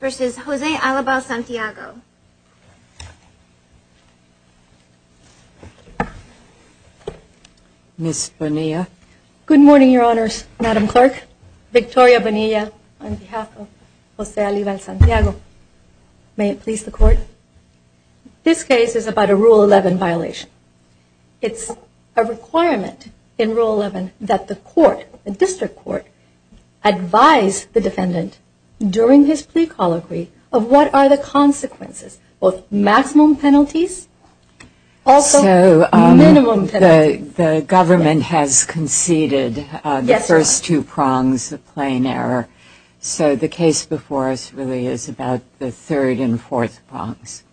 v. José Álvaro Santiago Ms. Bonilla Good morning, Your Honors. Madam Clerk, Victoria Bonilla on behalf of José Álvaro Santiago. May it please the Court. This case is about a Rule 11 violation. It's a requirement in his plea colloquy of what are the consequences of maximum penalties, also minimum penalties. So the government has conceded the first two prongs of plain error. So the case before us really is about the third and fourth prongs.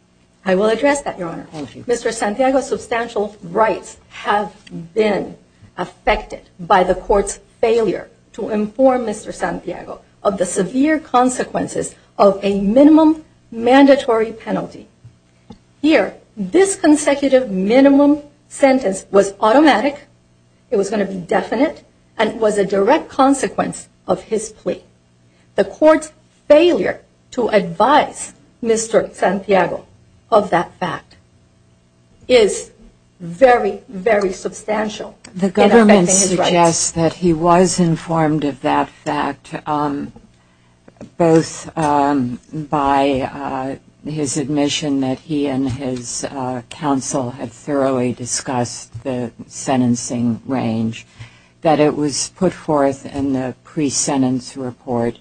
I will address that, Your Honor. Mr. Santiago's substantial rights have been affected by the Court's failure to inform Mr. Santiago of the severe consequences of a minimum mandatory penalty. Here, this consecutive minimum sentence was automatic, it was going to be definite, and it was a direct consequence of his plea. The Court's failure to advise Mr. Santiago of that fact is very, very substantial. The government suggests that he was informed of that fact, both by his admission that he and his counsel had thoroughly discussed the sentencing range, that it was put forth in the pre-sentence report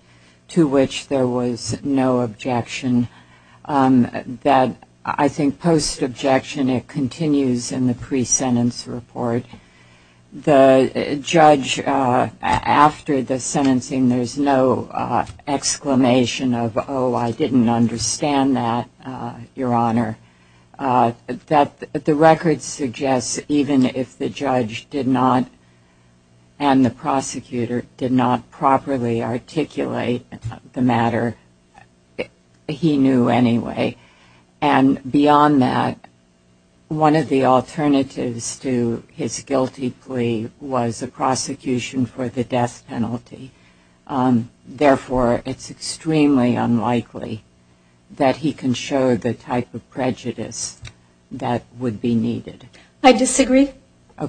to which there was no objection, that I think post-objection and it continues in the pre-sentence report, the judge, after the sentencing, there's no exclamation of, oh, I didn't understand that, Your Honor. The record suggests even if the judge did not and the prosecutor did not properly articulate the matter, he knew anyway. And beyond that, one of the alternatives to his guilty plea was a prosecution for the death penalty. Therefore, it's extremely unlikely that he can show the type of prejudice that would be needed. I disagree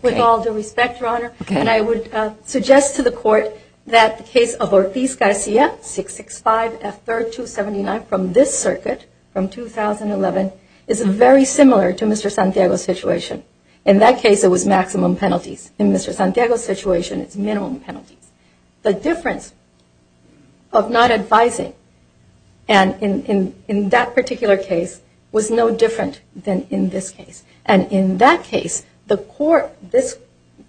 with all due respect, Your Honor, and I would suggest to the Court that the case of Ortiz-Garcia, 665 F. 3rd 279 from this circuit, from 2011, is very similar to Mr. Santiago's situation. In that case, it was maximum penalties. In Mr. Santiago's situation, it's minimum penalties. The difference of not advising in that particular case was no different than in this case. And in that case, the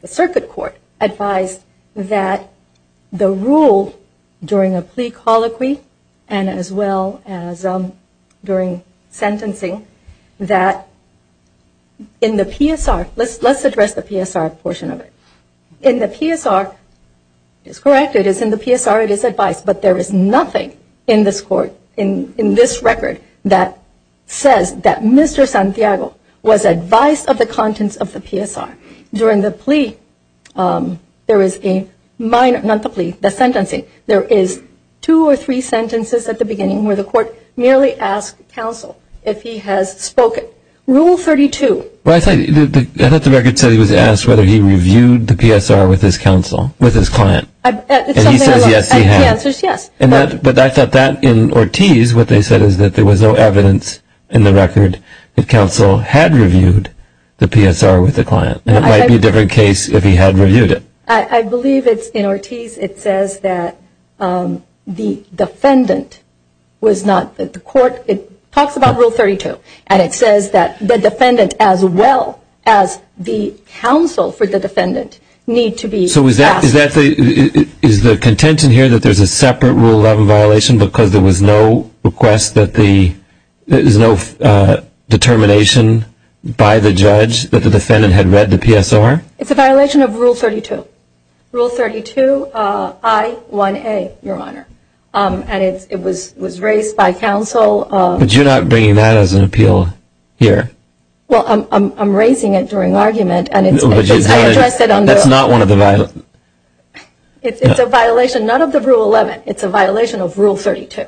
circuit court advised that the rule during a plea colloquy and as well as during sentencing that in the PSR, let's address the PSR portion of it. In the PSR, it's correct, it is in the PSR, it is advised, but there is nothing in this record that says that Mr. Santiago was advised of the contents of the PSR. During the plea, there is a minor, not the plea, the sentencing, there is two or three sentences at the beginning where the court merely asked counsel if he has spoken. Rule 32. Well, I thought the record said he was asked whether he reviewed the PSR with his counsel, with his client. And he says yes, he has. The answer is yes. But I thought that in Ortiz, what they said is that there was no evidence in the record that counsel had reviewed the PSR with the client. And it might be a different case if he had reviewed it. I believe it's in Ortiz, it says that the defendant was not, the court, it talks about Rule 32. And it says that the defendant as well as the counsel for the defendant need to be asked. So is that, is the contention here that there is a separate Rule 11 violation because there was no request that the, there was no determination by the judge that the defendant had read the PSR? It's a violation of Rule 32. Rule 32 I1A, Your Honor. And it was raised by counsel. But you're not bringing that as an appeal here. Well, I'm raising it during argument. That's not one of the violations. It's a violation, not of the Rule 11. It's a violation of Rule 32,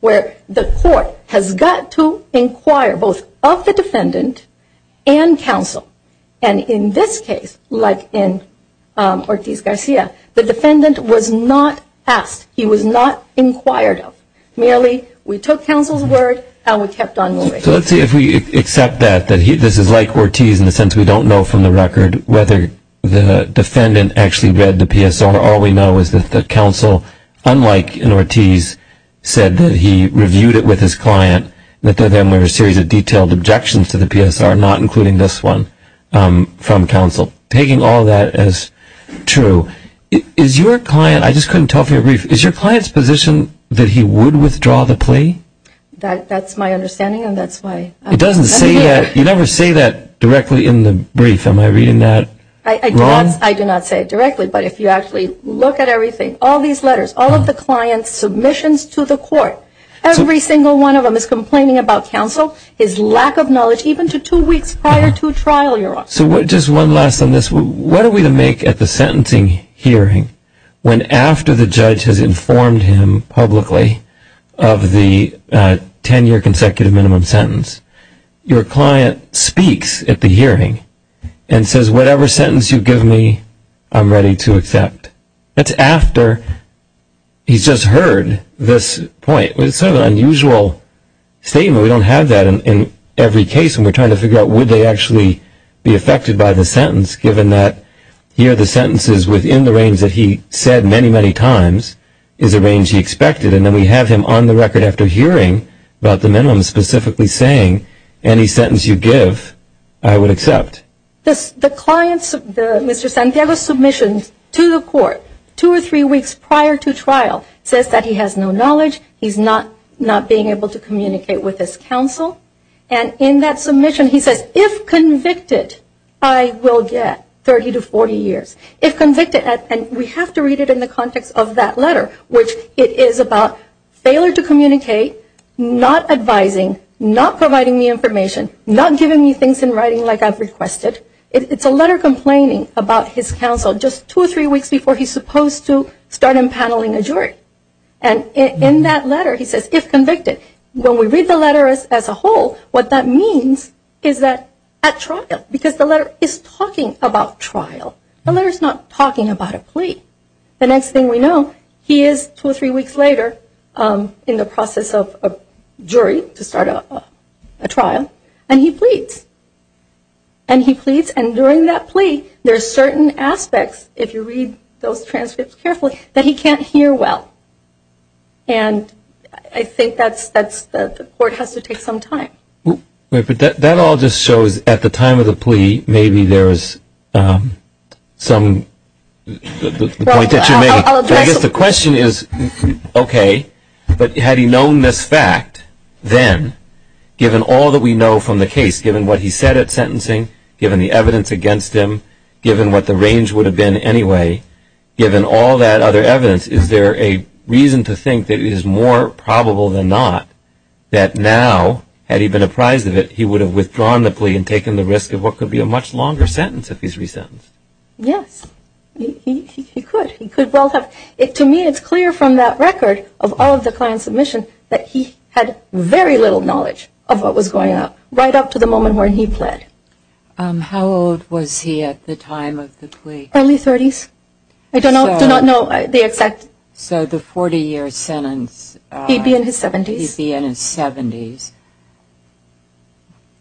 where the court has got to inquire both of the defendant and counsel. And in this case, like in Ortiz-Garcia, the defendant was not asked. He was not inquired of. Merely, we took counsel's word and we kept on moving. So let's see if we accept that, that this is like Ortiz in the sense we don't know from the record whether the defendant actually read the PSR. All we know is that the counsel, unlike in Ortiz, said that he reviewed it with his client. That there then were a series of detailed objections to the PSR, not including this one from counsel. Taking all that as true, is your client, I just couldn't tell if you agree, is your client's position that he would withdraw the plea? That's my understanding, and that's why. It doesn't say that, you never say that directly in the brief. Am I reading that wrong? I do not say it directly, but if you actually look at everything, all these letters, all of the client's submissions to the court. Every single one of them is complaining about counsel, his lack of knowledge, even to two weeks prior to trial. So just one last on this, what are we to make at the sentencing hearing when after the judge has informed him publicly of the 10-year consecutive minimum sentence, your client speaks at the hearing and says, whatever sentence you give me, I'm ready to accept. That's after he's just heard this point. It's sort of an unusual statement. So we don't have that in every case, and we're trying to figure out would they actually be affected by the sentence, given that here the sentence is within the range that he said many, many times, is the range he expected. And then we have him on the record after hearing about the minimum, specifically saying, any sentence you give, I would accept. The client's, Mr. Santiago's submission to the court, two or three weeks prior to trial, says that he has no knowledge, he's not being able to communicate with his counsel. And in that submission he says, if convicted, I will get 30 to 40 years. If convicted, and we have to read it in the context of that letter, which it is about failure to communicate, not advising, not providing me information, not giving me things in writing like I've requested. It's a letter complaining about his counsel just two or three weeks before he's supposed to start empaneling a jury. And in that letter he says, if convicted. When we read the letter as a whole, what that means is that at trial, because the letter is talking about trial. The letter's not talking about a plea. The next thing we know, he is two or three weeks later in the process of a jury to start a trial, and he pleads. And he pleads, and during that plea, there are certain aspects, if you read those transcripts carefully, that he can't hear well. And I think that's, the court has to take some time. Wait, but that all just shows, at the time of the plea, maybe there is some, the point that you're making. I guess the question is, okay, but had he known this fact then, given all that we know from the case, given what he said at sentencing, given the evidence against him, given what the range would have been anyway, given all that other evidence, is there a reason to think that it is more probable than not that now, had he been apprised of it, he would have withdrawn the plea and taken the risk of what could be a much longer sentence if he's resentenced? Yes, he could. He could well have. To me, it's clear from that record of all of the client's submission that he had very little knowledge of what was going on, right up to the moment when he pled. How old was he at the time of the plea? Early 30s. I do not know the exact... So the 40-year sentence... He'd be in his 70s. He'd be in his 70s,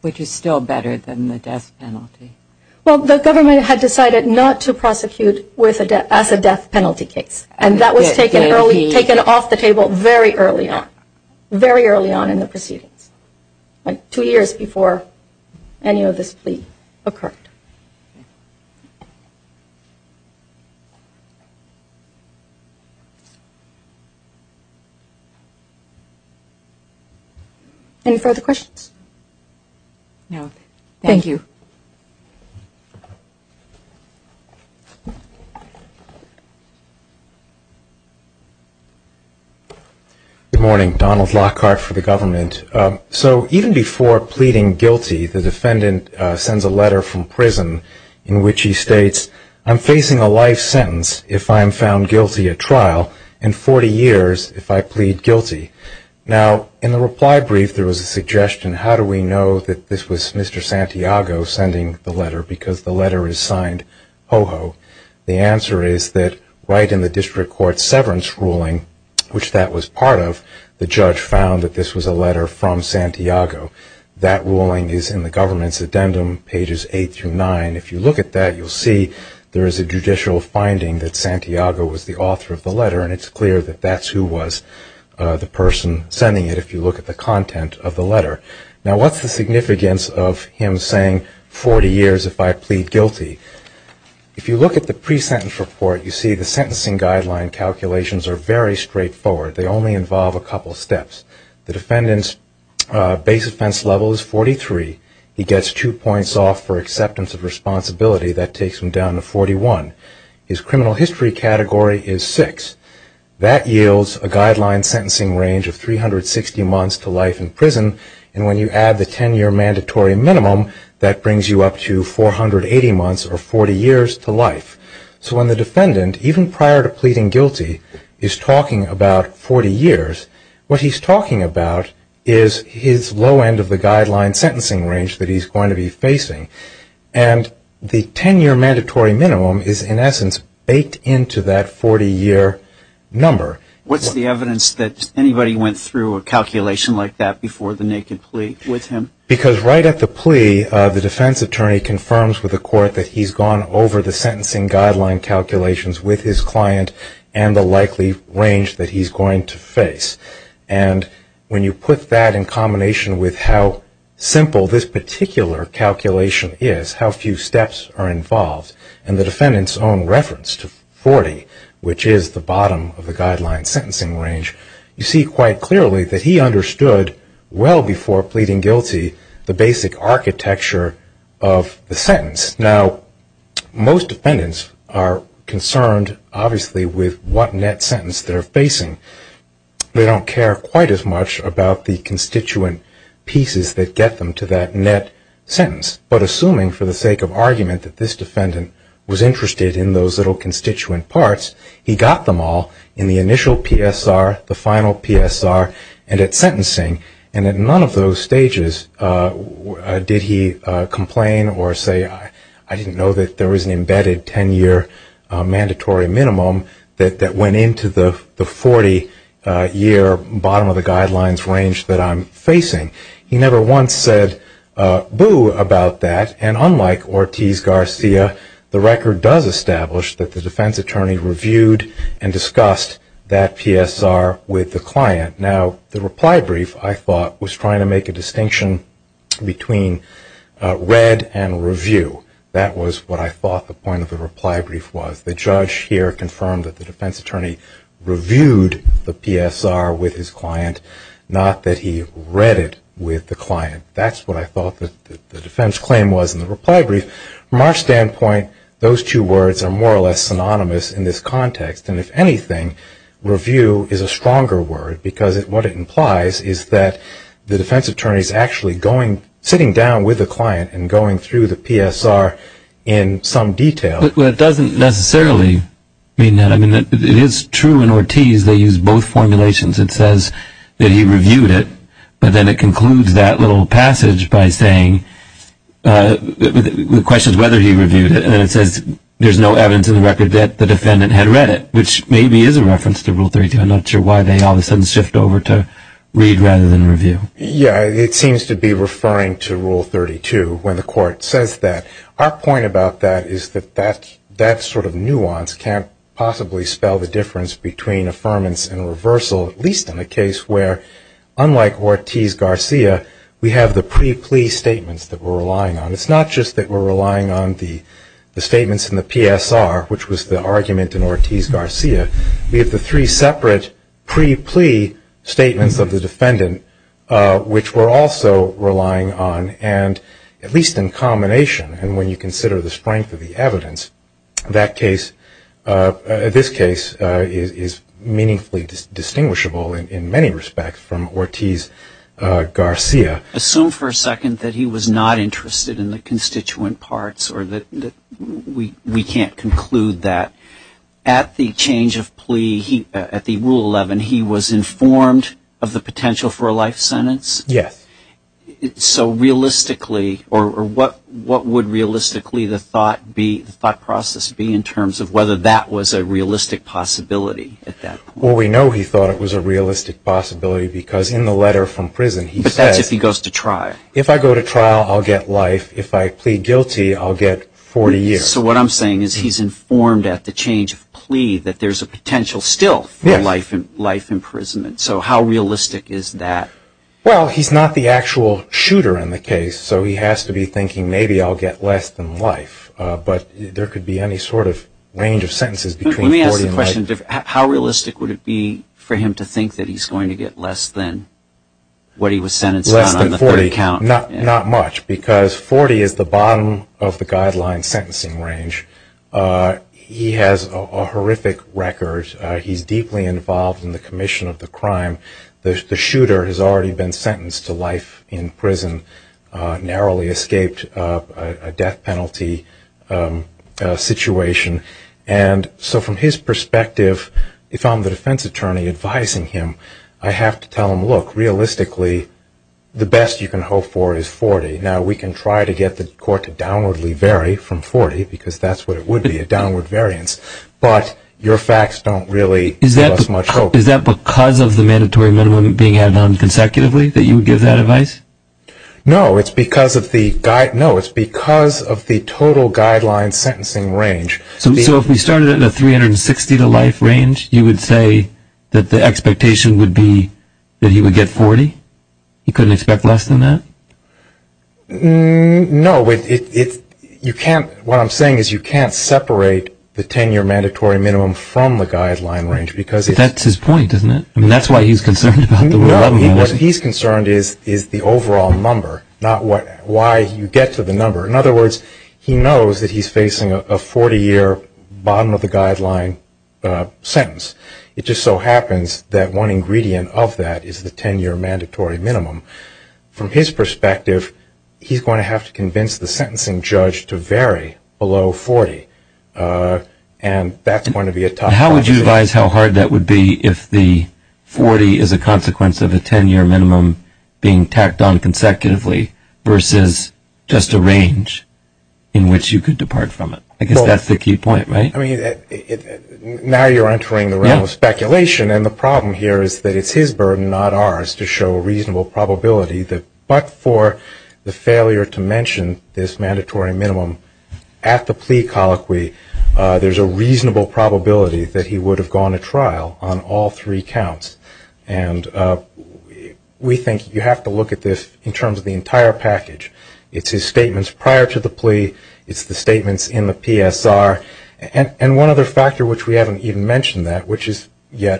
which is still better than the death penalty. Well, the government had decided not to prosecute as a death penalty case, and that was taken off the table very early on, very early on in the proceedings. Two years before any of this plea occurred. Any further questions? No. Thank you. Good morning. Donald Lockhart for the government. So even before pleading guilty, the defendant sends a letter from prison in which he states, I'm facing a life sentence if I am found guilty at trial and 40 years if I plead guilty. Now, in the reply brief, there was a suggestion. How do we know that this was Mr. Santiago sending the letter? Because the letter is signed HOHO. The answer is that right in the district court's severance ruling, which that was part of, the judge found that this was a letter from Santiago. That ruling is in the government's addendum, pages 8 through 9. If you look at that, you'll see there is a judicial finding that Santiago was the author of the letter, and it's clear that that's who was the person sending it if you look at the content of the letter. Now, what's the significance of him saying 40 years if I plead guilty? If you look at the pre-sentence report, you see the sentencing guideline calculations are very straightforward. They only involve a couple steps. The defendant's base offense level is 43. He gets two points off for acceptance of responsibility. That takes him down to 41. His criminal history category is 6. That yields a guideline sentencing range of 360 months to life in prison, and when you add the 10-year mandatory minimum, that brings you up to 480 months or 40 years to life. So when the defendant, even prior to pleading guilty, is talking about 40 years, what he's talking about is his low end of the guideline sentencing range that he's going to be facing, and the 10-year mandatory minimum is, in essence, baked into that 40-year number. What's the evidence that anybody went through a calculation like that before the naked plea with him? Because right at the plea, the defense attorney confirms with the court that he's gone over the sentencing guideline calculations with his client and the likely range that he's going to face. And when you put that in combination with how simple this particular calculation is, how few steps are involved, and the defendant's own reference to 40, which is the bottom of the guideline sentencing range, you see quite clearly that he understood well before pleading guilty the basic architecture of the sentence. Now, most defendants are concerned, obviously, with what net sentence they're facing. They don't care quite as much about the constituent pieces that get them to that net sentence. But assuming, for the sake of argument, that this defendant was interested in those little constituent parts, he got them all in the initial PSR, the final PSR, and at sentencing, and at none of those stages did he complain or say, I didn't know that there was an embedded 10-year mandatory minimum that went into the 40-year bottom of the guidelines range that I'm facing. He never once said boo about that. And unlike Ortiz-Garcia, the record does establish that the defense attorney reviewed and discussed that PSR with the client. Now, the reply brief, I thought, was trying to make a distinction between read and review. That was what I thought the point of the reply brief was. The judge here confirmed that the defense attorney reviewed the PSR with his client, not that he read it with the client. That's what I thought the defense claim was in the reply brief. From our standpoint, those two words are more or less synonymous in this context. And if anything, review is a stronger word, because what it implies is that the defense attorney is actually going, sitting down with the client and going through the PSR in some detail. But it doesn't necessarily mean that. I mean, it is true in Ortiz, they use both formulations. It says that he reviewed it, but then it concludes that little passage by saying, the question is whether he reviewed it, and then it says there's no evidence in the record that the defendant had read it, which maybe is a reference to Rule 32. I'm not sure why they all of a sudden shift over to read rather than review. Yeah, it seems to be referring to Rule 32 when the court says that. Our point about that is that that sort of nuance can't possibly spell the difference between affirmance and reversal, at least in a case where, unlike Ortiz-Garcia, we have the pre-plea statements that we're relying on. It's not just that we're relying on the statements in the PSR, which was the argument in Ortiz-Garcia, we have the three separate pre-plea statements of the defendant, which we're also relying on, and at least in combination, and when you consider the strength of the evidence, that case, this case, is meaningfully distinguishable in many respects from Ortiz-Garcia. Assume for a second that he was not interested in the constituent parts, or that we can't conclude that. At the change of plea, at the Rule 11, he was informed of the potential for a life sentence? Yes. So realistically, or what would realistically the thought process be in terms of whether that was a realistic possibility at that point? Well, we know he thought it was a realistic possibility, because in the letter from prison, that's if he goes to trial. If I go to trial, I'll get life. If I plead guilty, I'll get 40 years. So what I'm saying is he's informed at the change of plea that there's a potential still for life imprisonment. So how realistic is that? Well, he's not the actual shooter in the case, so he has to be thinking, maybe I'll get less than life, but there could be any sort of range of sentences between 40 and life. How realistic would it be for him to think that he's going to get less than what he was sentenced on on the third count? Less than 40, not much, because 40 is the bottom of the guideline sentencing range. He has a horrific record. He's deeply involved in the commission of the crime. The shooter has already been sentenced to life in prison, narrowly escaped a death penalty situation. And so from his perspective, if I'm the defense attorney advising him, I have to tell him, look, realistically, the best you can hope for is 40. Now we can try to get the court to downwardly vary from 40, because that's what it would be, a downward variance. But your facts don't really give us much hope. Is that because of the mandatory minimum being added on consecutively, that you would give that advice? No, it's because of the total guideline sentencing range. So if we started at a 360 to life range, you would say that the expectation would be that he would get 40? He couldn't expect less than that? No. What I'm saying is you can't separate the 10-year mandatory minimum from the guideline range. But that's his point, isn't it? I mean, that's why he's concerned about the rule of thumb. What he's concerned is the overall number, not why you get to the number. In other words, he knows that he's facing a 40-year bottom of the guideline sentence. It just so happens that one ingredient of that is the 10-year mandatory minimum. From his perspective, he's going to have to convince the sentencing judge to vary below 40. And that's going to be a top priority. How would you advise how hard that would be if the 40 is a consequence of a 10-year minimum being tacked on consecutively versus just a range in which you could depart from it? I guess that's the key point, right? I mean, now you're entering the realm of speculation. And the problem here is that it's his burden, not ours, to show a reasonable probability that but for the failure to mention this mandatory minimum at the plea colloquy, there's a reasonable probability that he would have gone to trial on all three counts. And we think you have to look at this in terms of the entire package. It's his statements prior to the plea. It's the statements in the PSR. And one other factor, which we haven't even mentioned yet,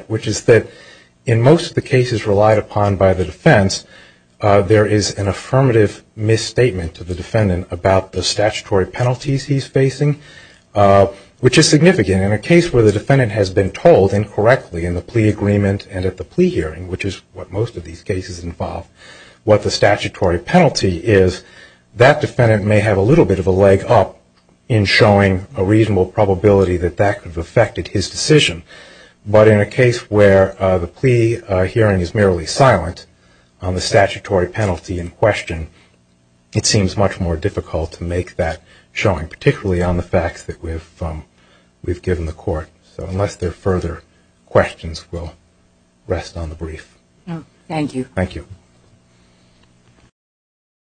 which is that in most of the cases relied upon by the defense, there is an affirmative misstatement to the defendant about the statutory penalties he's facing, which is significant. In a case where the defendant has been told incorrectly in the plea agreement and at the plea hearing, which is what most of these cases involve, what the statutory penalty is, that defendant may have a little bit of a leg up in showing a reasonable probability that that could have affected his decision. But in a case where the plea hearing is merely silent on the statutory penalty in question, it seems much more difficult to make that showing, particularly on the facts that we've given the court. So unless there are further questions, we'll rest on the brief. Thank you. Thank you.